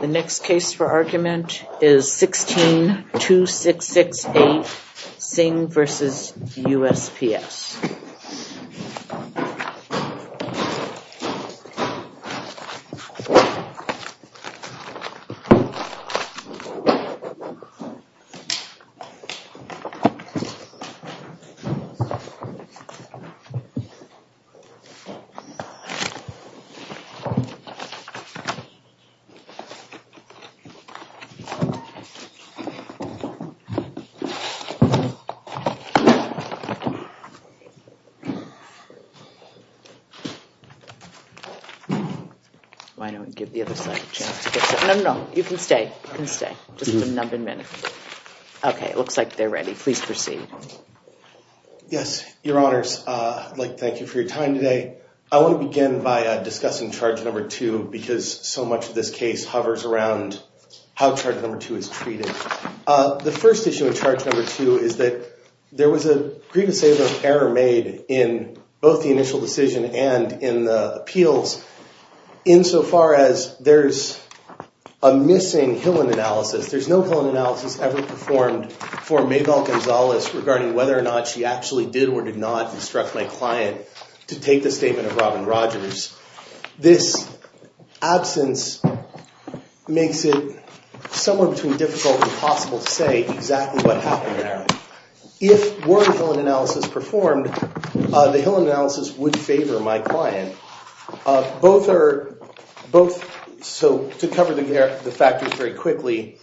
The next case for argument is 16-2668 Singh v. USPS Why don't we give the other side a chance to get set up? No, no, you can stay, you can stay, just a minute. Okay, it looks like they're ready. Please proceed. Yes, your honors, I'd like to thank you for your time today. I want to begin by discussing charge number two because so much of this case hovers around how charge number two is treated. The first issue of charge number two is that there was a grievance error made in both the initial decision and in the appeals insofar as there's a missing Hillen analysis. There's no Hillen analysis ever performed for Mabel Gonzalez regarding whether or not she actually did or did not instruct my client to take the statement of Robin Rogers. This absence makes it somewhat between difficult and impossible to say exactly what happened there. If were a Hillen analysis performed, the Hillen analysis would favor my client. So to cover the factors very quickly,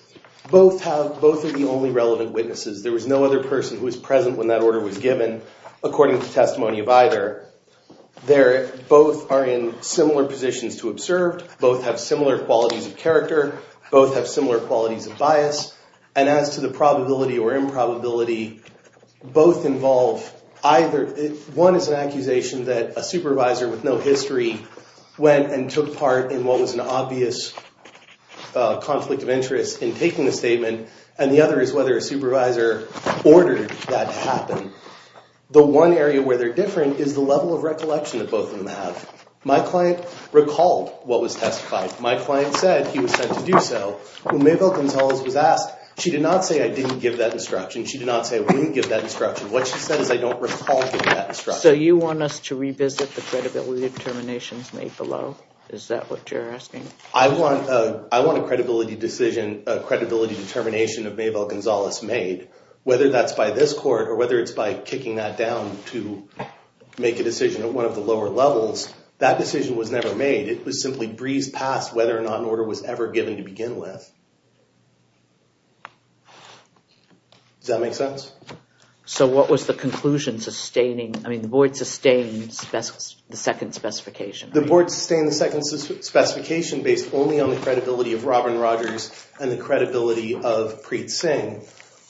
both are the only relevant witnesses. There was no other person who was present when that order was given according to testimony of either. Both are in similar positions to observed, both have similar qualities of character, both have similar qualities of bias. And as to the probability or improbability, both involve either. One is an accusation that a supervisor with no history went and took part in what was an obvious conflict of interest in taking the statement. And the other is whether a supervisor ordered that to happen. The one area where they're different is the level of recollection that both of them have. My client recalled what was testified. My client said he was sent to do so. When Mabel Gonzalez was asked, she did not say I didn't give that instruction. She did not say we didn't give that instruction. What she said is I don't recall giving that instruction. So you want us to revisit the credibility determinations made below? Is that what you're asking? I want a credibility determination of Mabel Gonzalez made. Whether that's by this court or whether it's by kicking that down to make a decision at one of the lower levels, that decision was never made. It was Does that make sense? So what was the conclusion sustaining, I mean the board sustained the second specification. The board sustained the second specification based only on the credibility of Robin Rogers and the credibility of Preet Singh.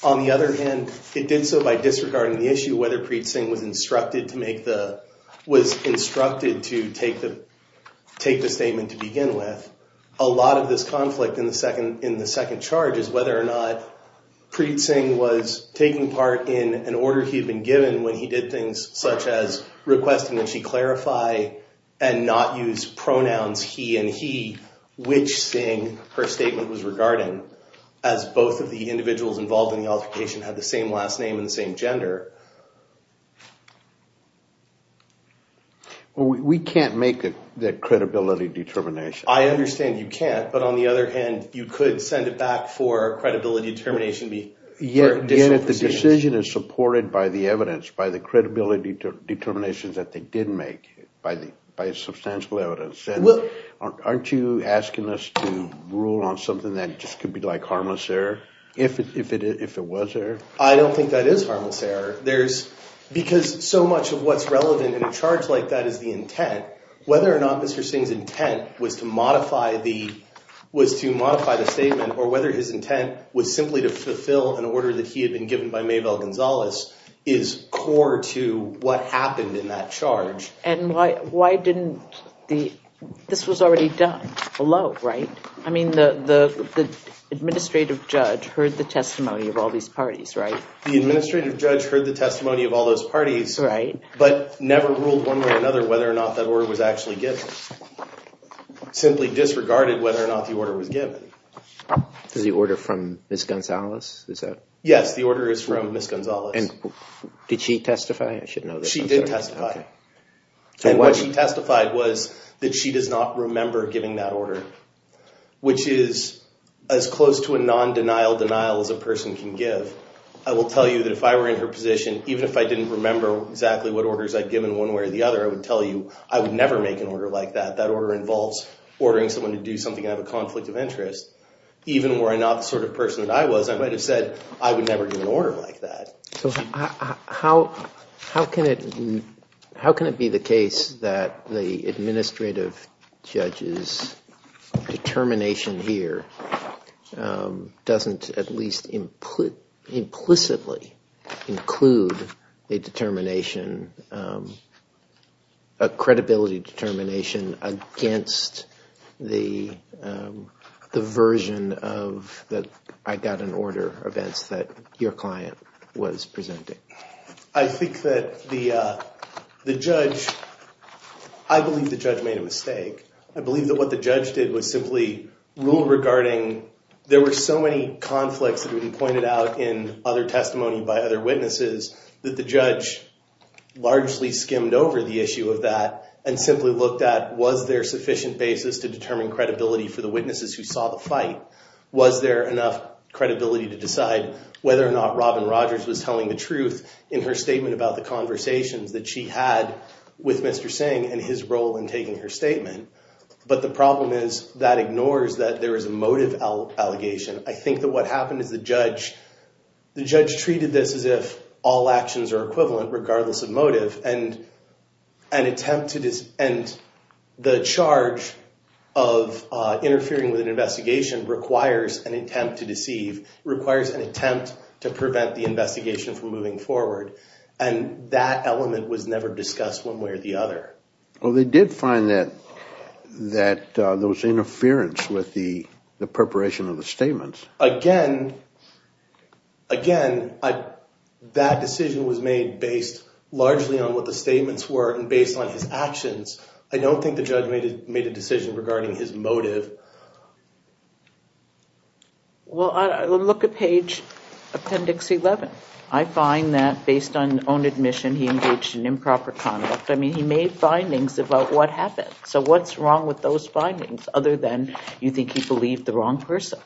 On the other hand, it did so by disregarding the issue whether Preet Singh was instructed to make the, was instructed to take the statement to begin with. A lot of this conflict in the second charge is whether or not Preet Singh was taking part in an order he had been given when he did things such as requesting that she clarify and not use pronouns he and he, which Singh her statement was regarding, as both of the individuals involved in the altercation had the same last name and the same gender. We can't make that credibility determination. I understand you can't, but on the other hand, you could send it back for credibility determination for additional proceedings. Yet if the decision is supported by the evidence, by the credibility determinations that they did make, by substantial evidence, then aren't you asking us to rule on something that just could be like harmless error if it was error? I don't think that is harmless error. There's, because so much of what's relevant in a charge like that is the intent. Whether or not Mr. Singh's intent was to modify the, was to modify the statement or whether his intent was simply to fulfill an order that he had been given by Mabel Gonzalez is core to what happened in that charge. And why, why didn't the, this was already done below, right? I mean the, the, the administrative judge heard the testimony of all these parties, right? The administrative judge heard the testimony of all those parties, right? But never ruled one way or another whether or not that order was actually given. Simply disregarded whether or not the order was given. Is the order from Ms. Gonzalez? Is that? Yes, the order is from Ms. Gonzalez. And did she testify? I should know this. She did testify. Okay. And what she testified was that she does not remember giving that order, which is as close to a non-denial denial as a person can give. I will tell you that if I were in her position, even if I didn't remember exactly what orders I'd given one way or the other, I would tell you I would never make an order like that. That order involves ordering someone to do something and have a conflict of interest. Even were I not the sort of person that I was, I might have said I would never give an order like that. So how, how can it, how can it be the case that the administrative judge's determination here doesn't at least implicitly include a determination, a credibility determination against the version of the I got an order events that your client was presenting? I think that the judge, I believe the judge made a mistake. I believe that what the judge did was simply rule regarding, there were so many conflicts that would be pointed out in other testimony by other witnesses that the judge largely skimmed over the issue of that and simply looked at, was there sufficient basis to determine credibility for the witnesses who saw the fight? Was there enough credibility to decide whether or not Robin Rogers was telling the truth in her statement about the conversations that she had with Mr. Singh and his role in taking her statement? But the problem is that ignores that there is a motive allegation. I think that what happened is the judge, the judge treated this as if all actions are equivalent regardless of motive and an attempt to, and the charge of interfering with an investigation requires an attempt to deceive, requires an attempt to prevent the investigation from moving forward. And that element was never discussed one way or the other. Well, they did find that, that there was interference with the preparation of the statements. Again, again, that decision was made based largely on what the statements were and based on his actions. I don't think the judge made a decision regarding his motive. Well, look at page appendix 11. I find that based on own admission, he engaged in improper conduct. I mean, he made findings about what happened. So what's wrong with those findings other than you think he believed the wrong person?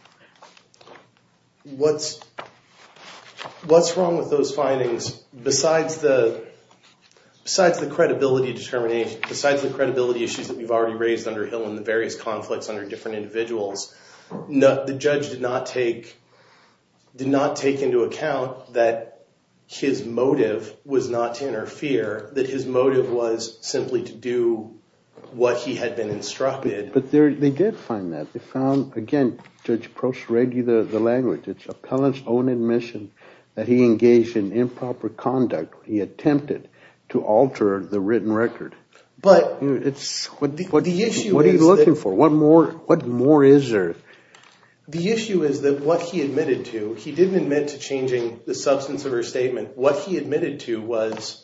What's, what's wrong with those findings besides the, besides the credibility determination, besides the credibility issues that we've already raised under Hill and the various conflicts under different individuals, the judge did not take, did not take into account that his motive was not to interfere, that his motive was simply to do what he had been instructed. But there, they did find that. They found, again, Judge Proshregi, the language, it's appellant's own admission that he engaged in improper conduct. He attempted to alter the written record. But, the issue is that What are you looking for? What more, what more is there? The issue is that what he admitted to, he didn't admit to changing the substance of her statement. What he admitted to was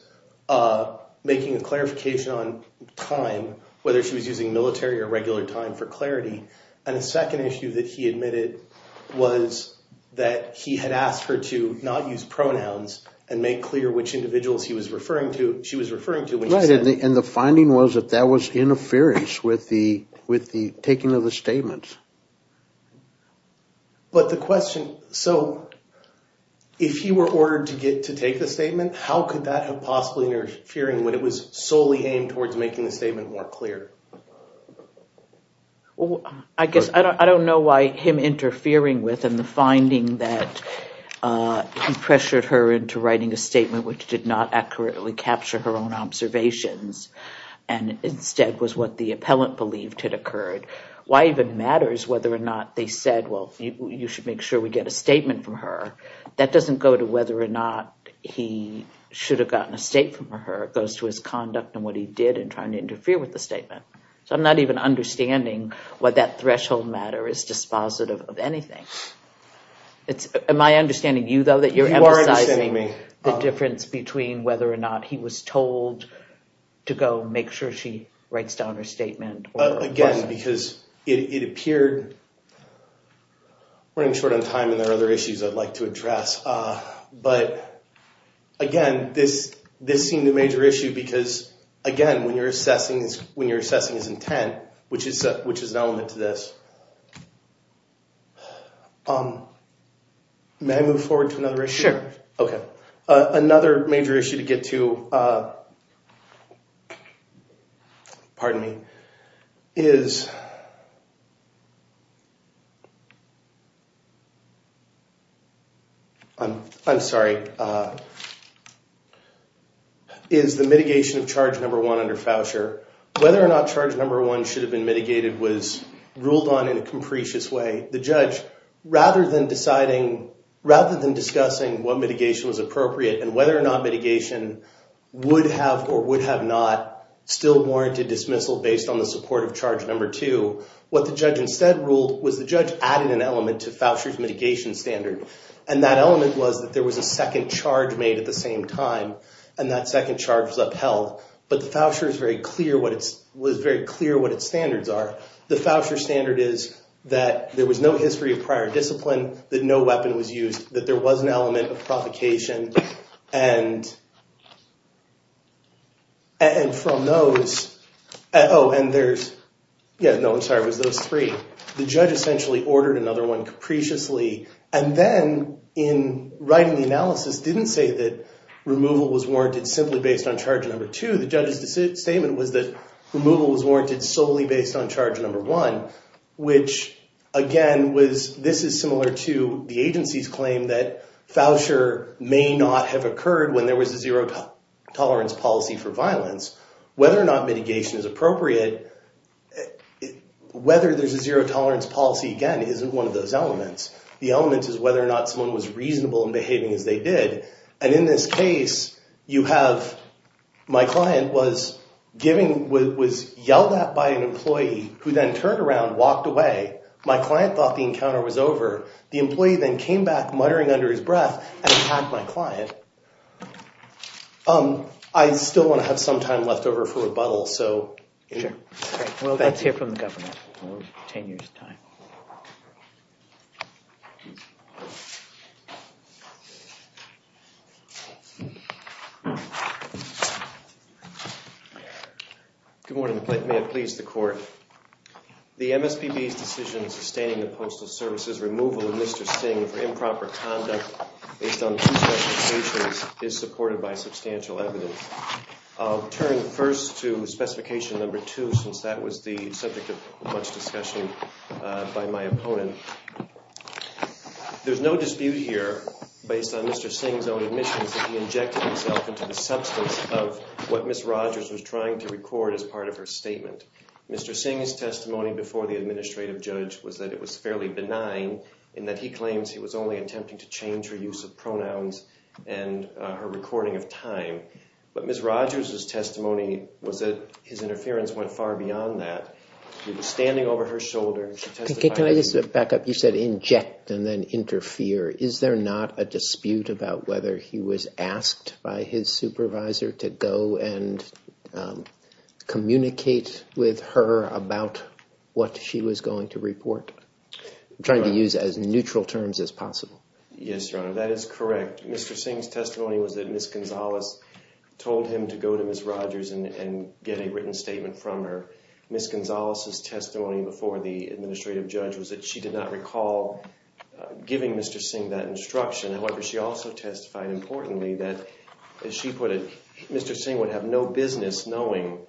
making a clarification on time, whether she was using military or regular time for clarity. And the second issue that he admitted was that he had asked her to not use pronouns and make clear which individuals he was referring to, she was referring to when he said And the finding was that that was interference with the taking of the statement. But the question, so, if he were ordered to take the statement, how could that have possibly interfered when it was solely aimed towards making the statement more clear? I guess, I don't know why him interfering with and the finding that he pressured her into writing a statement which did not accurately capture her own observations and instead was what the appellant believed had occurred. Why even matters whether or not they said, well, you should make sure we get a statement from her. That doesn't go to whether or not he should have gotten a statement from her. It goes to his conduct and what he did in trying to interfere with the statement. So, I'm not even understanding why that threshold matter is dispositive of anything. Am I understanding you, though, that you're emphasizing the difference between whether or not he was told to go make sure she writes down her statement? Again, because it appeared, we're running short on time and there are other issues I'd like to address. But, again, this seemed a major issue because, again, when you're assessing his intent, which is an element to this, may I move forward to another issue? Sure. Okay. Another major issue to get to, pardon me, is the mitigation of charge number one under Foucher. Whether or not charge number one should have been mitigated was ruled on in a capricious way. The judge, rather than discussing what mitigation was appropriate and whether or not mitigation would have or would have not still warranted dismissal based on the support of charge number two, what the judge instead ruled was the judge added an element to Foucher's mitigation standard. And that element was that there was a second charge made at the same time, and that second charge was upheld. But Foucher was very clear what its standards are. The Foucher standard is that there was no history of prior discipline, that no weapon was used, that there was an element of provocation. And from those, oh, and there's, yeah, no, I'm sorry, it was those three. So the judge essentially ordered another one capriciously. And then in writing the analysis, didn't say that removal was warranted simply based on charge number two. The judge's statement was that removal was warranted solely based on charge number one, which again was, this is similar to the agency's claim that Foucher may not have occurred when there was a zero tolerance policy for violence. Whether or not mitigation is appropriate, whether there's a zero tolerance policy, again, isn't one of those elements. The element is whether or not someone was reasonable in behaving as they did. And in this case, you have, my client was giving, was yelled at by an employee who then turned around, walked away. My client thought the encounter was over. The employee then came back muttering under his breath and attacked my client. I still want to have some time left over for rebuttal. Sure. Well, let's hear from the governor. Ten years' time. Good morning. May it please the court. The MSPB's decision sustaining the Postal Service's removal of Mr. Singh for improper conduct based on two specifications is supported by substantial evidence. I'll turn first to specification number two since that was the subject of much discussion by my opponent. There's no dispute here based on Mr. Singh's own admissions that he injected himself into the substance of what Ms. Rogers was trying to record as part of her statement. Mr. Singh's testimony before the administrative judge was that it was fairly benign in that he claims he was only attempting to change her use of pronouns and her recording of time. But Ms. Rogers' testimony was that his interference went far beyond that. He was standing over her shoulder. Can I just back up? You said inject and then interfere. Is there not a dispute about whether he was asked by his supervisor to go I'm trying to use as neutral terms as possible. Yes, Your Honor. That is correct. Mr. Singh's testimony was that Ms. Gonzalez told him to go to Ms. Rogers and get a written statement from her. Ms. Gonzalez's testimony before the administrative judge was that she did not recall giving Mr. Singh that instruction. However, she also testified, importantly, that, as she put it, Mr. Singh would have no business knowing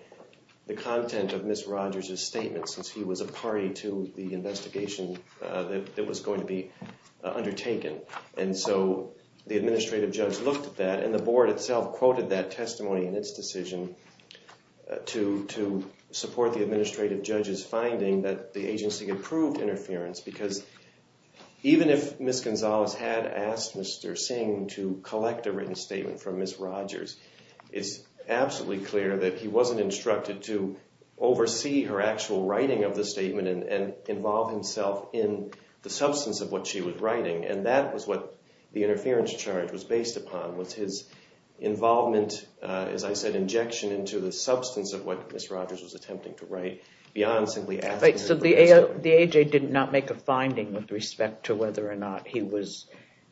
the content of Ms. Rogers' statement since he was a party to the investigation that was going to be undertaken. And so the administrative judge looked at that and the board itself quoted that testimony in its decision to support the administrative judge's finding that the agency approved interference because even if Ms. Gonzalez had asked Mr. Singh to collect a written statement from Ms. Rogers, it's absolutely clear that he wasn't instructed to oversee her actual writing of the statement and involve himself in the substance of what she was writing. And that was what the interference charge was based upon, was his involvement, as I said, injection into the substance of what Ms. Rogers was attempting to write beyond simply asking her to produce it. So the A.J. did not make a finding with respect to whether or not he was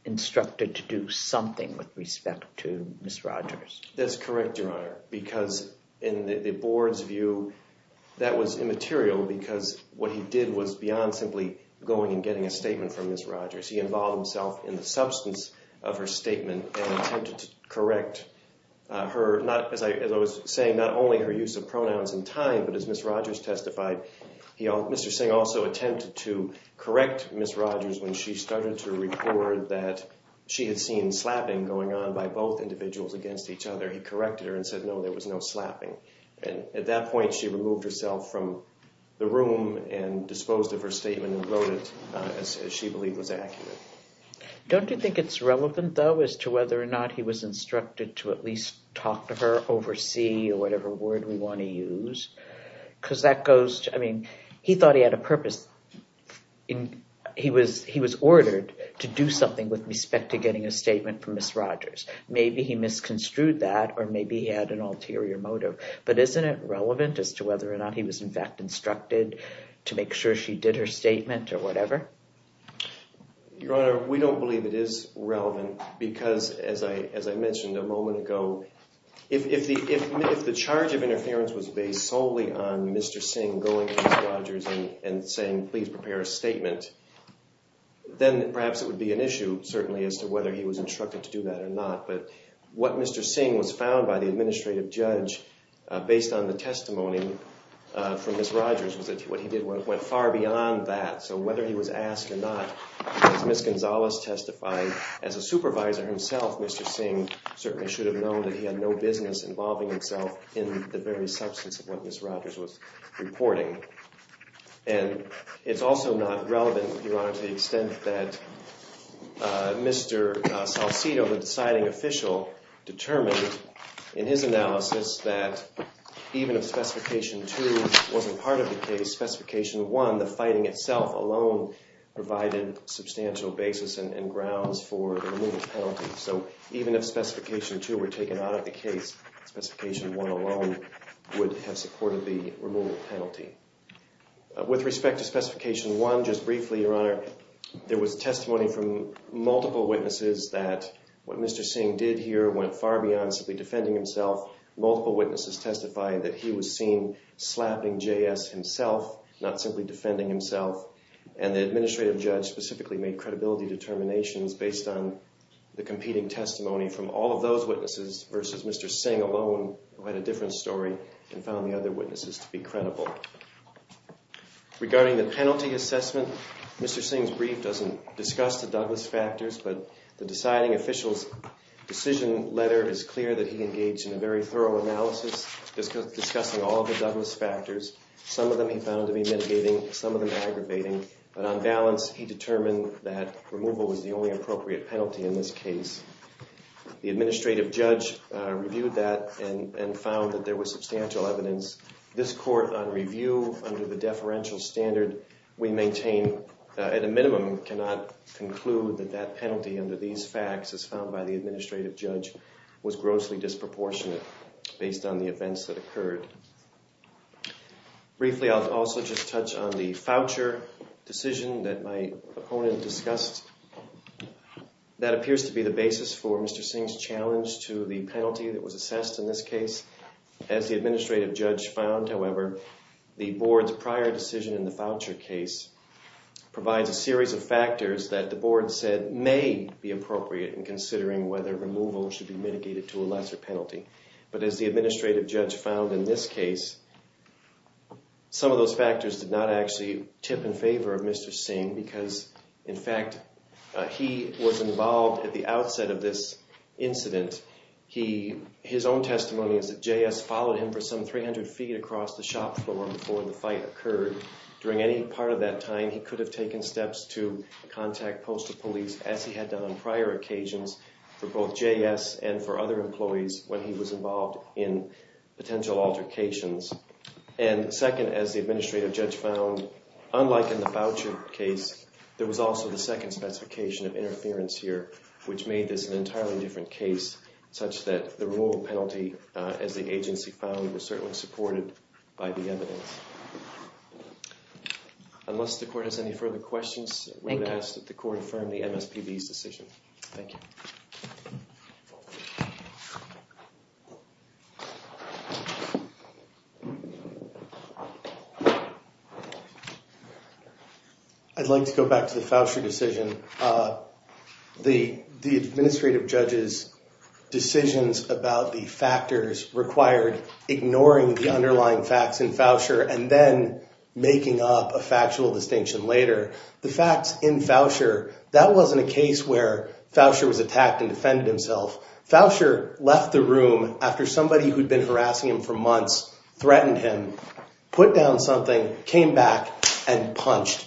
instructed to do something with respect to Ms. Rogers? That's correct, Your Honor, because in the board's view, that was immaterial because what he did was beyond simply going and getting a statement from Ms. Rogers. He involved himself in the substance of her statement and attempted to correct her, as I was saying, not only her use of pronouns and time, but as Ms. Rogers testified, Mr. Singh also attempted to correct Ms. Rogers when she started to report that she had seen slapping going on by both individuals against each other. He corrected her and said, no, there was no slapping. And at that point, she removed herself from the room and disposed of her statement and wrote it as she believed was accurate. Don't you think it's relevant, though, as to whether or not he was instructed to at least talk to her, oversee, or whatever word we want to use? Because that goes to, I mean, he thought he had a purpose. He was ordered to do something with respect to getting a statement from Ms. Rogers. Maybe he misconstrued that or maybe he had an ulterior motive. But isn't it relevant as to whether or not he was, in fact, instructed to make sure she did her statement or whatever? Your Honor, we don't believe it is relevant because, as I mentioned a moment ago, if the charge of interference was based solely on Mr. Singh going to Ms. Rogers and saying, please prepare a statement, then perhaps it would be an issue, certainly, as to whether he was instructed to do that or not. But what Mr. Singh was found by the administrative judge, based on the testimony from Ms. Rogers, was that what he did went far beyond that. So whether he was asked or not, as Ms. Gonzalez testified, as a supervisor himself, Mr. Singh certainly should have known that he had no business involving himself in the very substance of what Ms. Rogers was reporting. And it's also not relevant, Your Honor, to the extent that Mr. Salcido, the deciding official, determined in his analysis that even if Specification 2 wasn't part of the case, Specification 1, the fighting itself alone, provided substantial basis and grounds for the remittance penalty. So even if Specification 2 were taken out of the case, Specification 1 alone would have supported the remittance penalty. With respect to Specification 1, just briefly, Your Honor, there was testimony from multiple witnesses that what Mr. Singh did here went far beyond simply defending himself. Multiple witnesses testified that he was seen slapping J.S. himself, not simply defending himself. And the administrative judge specifically made credibility determinations based on the competing testimony from all of those witnesses versus Mr. Singh alone, who had a different story, and found the other witnesses to be credible. Regarding the penalty assessment, Mr. Singh's brief doesn't discuss the Douglas factors, but the deciding official's decision letter is clear that he engaged in a very thorough analysis, discussing all of the Douglas factors. Some of them he found to be mitigating, some of them aggravating. But on balance, he determined that removal was the only appropriate penalty in this case. The administrative judge reviewed that and found that there was substantial evidence. This court, on review, under the deferential standard we maintain, at a minimum, cannot conclude that that penalty under these facts as found by the administrative judge was grossly disproportionate based on the events that occurred. Briefly, I'll also just touch on the voucher decision that my opponent discussed. That appears to be the basis for Mr. Singh's challenge to the penalty that was assessed in this case. As the administrative judge found, however, the board's prior decision in the voucher case provides a series of factors that the board said may be appropriate in considering whether removal should be mitigated to a lesser penalty. But as the administrative judge found in this case, some of those factors did not actually tip in favor of Mr. Singh because, in fact, he was involved at the outset of this incident. His own testimony is that J.S. followed him for some 300 feet across the shop floor before the fight occurred. During any part of that time, he could have taken steps to contact postal police, as he had done on prior occasions, for both J.S. and for other employees when he was involved in potential altercations. And second, as the administrative judge found, unlike in the voucher case, there was also the second specification of interference here, which made this an entirely different case, such that the removal penalty, as the agency found, was certainly supported by the evidence. Unless the court has any further questions, we would ask that the court affirm the MSPB's decision. Thank you. I'd like to go back to the voucher decision. The administrative judge's decisions about the factors required ignoring the underlying facts in voucher and then making up a factual distinction later. The facts in voucher, that wasn't a case where voucher was attacked and defended himself. Voucher left the room after somebody who'd been harassing him for months threatened him, put down something, came back and punched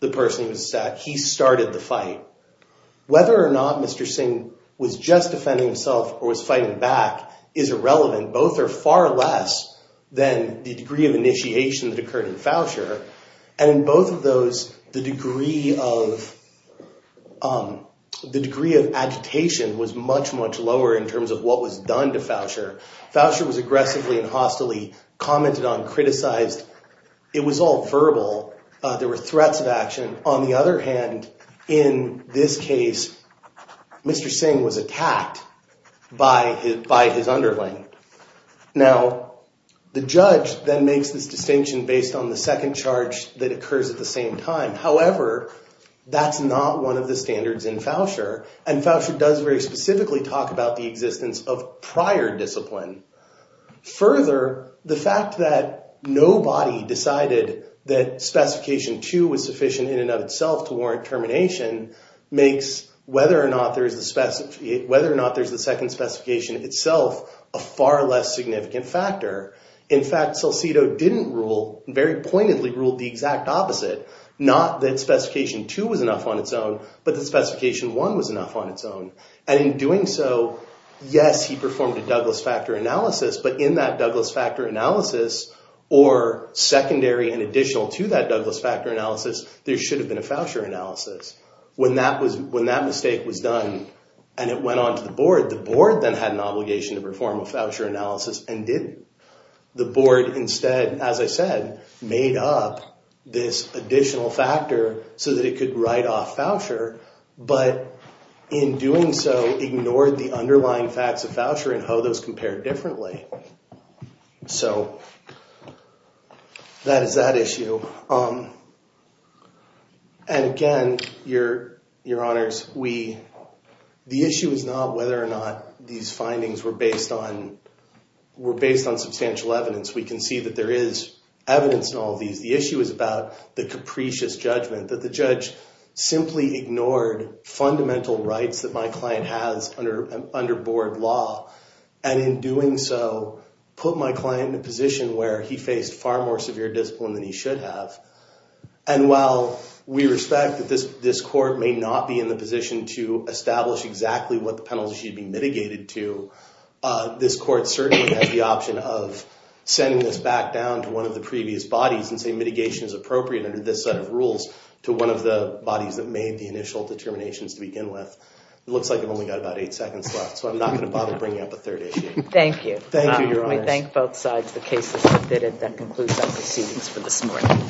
the person he was attacking. He started the fight. Whether or not Mr. Singh was just defending himself or was fighting back is irrelevant. Both are far less than the degree of initiation that occurred in voucher. And in both of those, the degree of agitation was much, much lower in terms of what was done to voucher. Voucher was aggressively and hostily commented on, criticized. It was all verbal. There were threats of action. On the other hand, in this case, Mr. Singh was attacked by his underling. Now, the judge then makes this distinction based on the second charge that occurs at the same time. However, that's not one of the standards in voucher. And voucher does very specifically talk about the existence of prior discipline. Further, the fact that nobody decided that specification two was sufficient in and of itself to warrant termination makes whether or not there's the second specification itself a far less significant factor. In fact, Salcido didn't rule, very pointedly ruled the exact opposite. Not that specification two was enough on its own, but the specification one was enough on its own. And in doing so, yes, he performed a Douglas factor analysis. But in that Douglas factor analysis or secondary and additional to that Douglas factor analysis, there should have been a voucher analysis. When that mistake was done and it went on to the board, the board then had an obligation to perform a voucher analysis and didn't. The board instead, as I said, made up this additional factor so that it could write off voucher. But in doing so, ignored the underlying facts of voucher and how those compare differently. So that is that issue. And again, Your Honors, the issue is not whether or not these findings were based on substantial evidence. We can see that there is evidence in all of these. The issue is about the capricious judgment that the judge simply ignored fundamental rights that my client has under board law. And in doing so, put my client in a position where he faced far more severe discipline than he should have. And while we respect that this court may not be in the position to establish exactly what the penalty should be mitigated to, this court certainly has the option of sending this back down to one of the previous bodies and say mitigation is appropriate under this set of rules to one of the bodies that made the initial determinations to begin with. It looks like I've only got about eight seconds left, so I'm not going to bother bringing up a third issue. Thank you. We thank both sides. The case is submitted. That concludes our proceedings for this morning.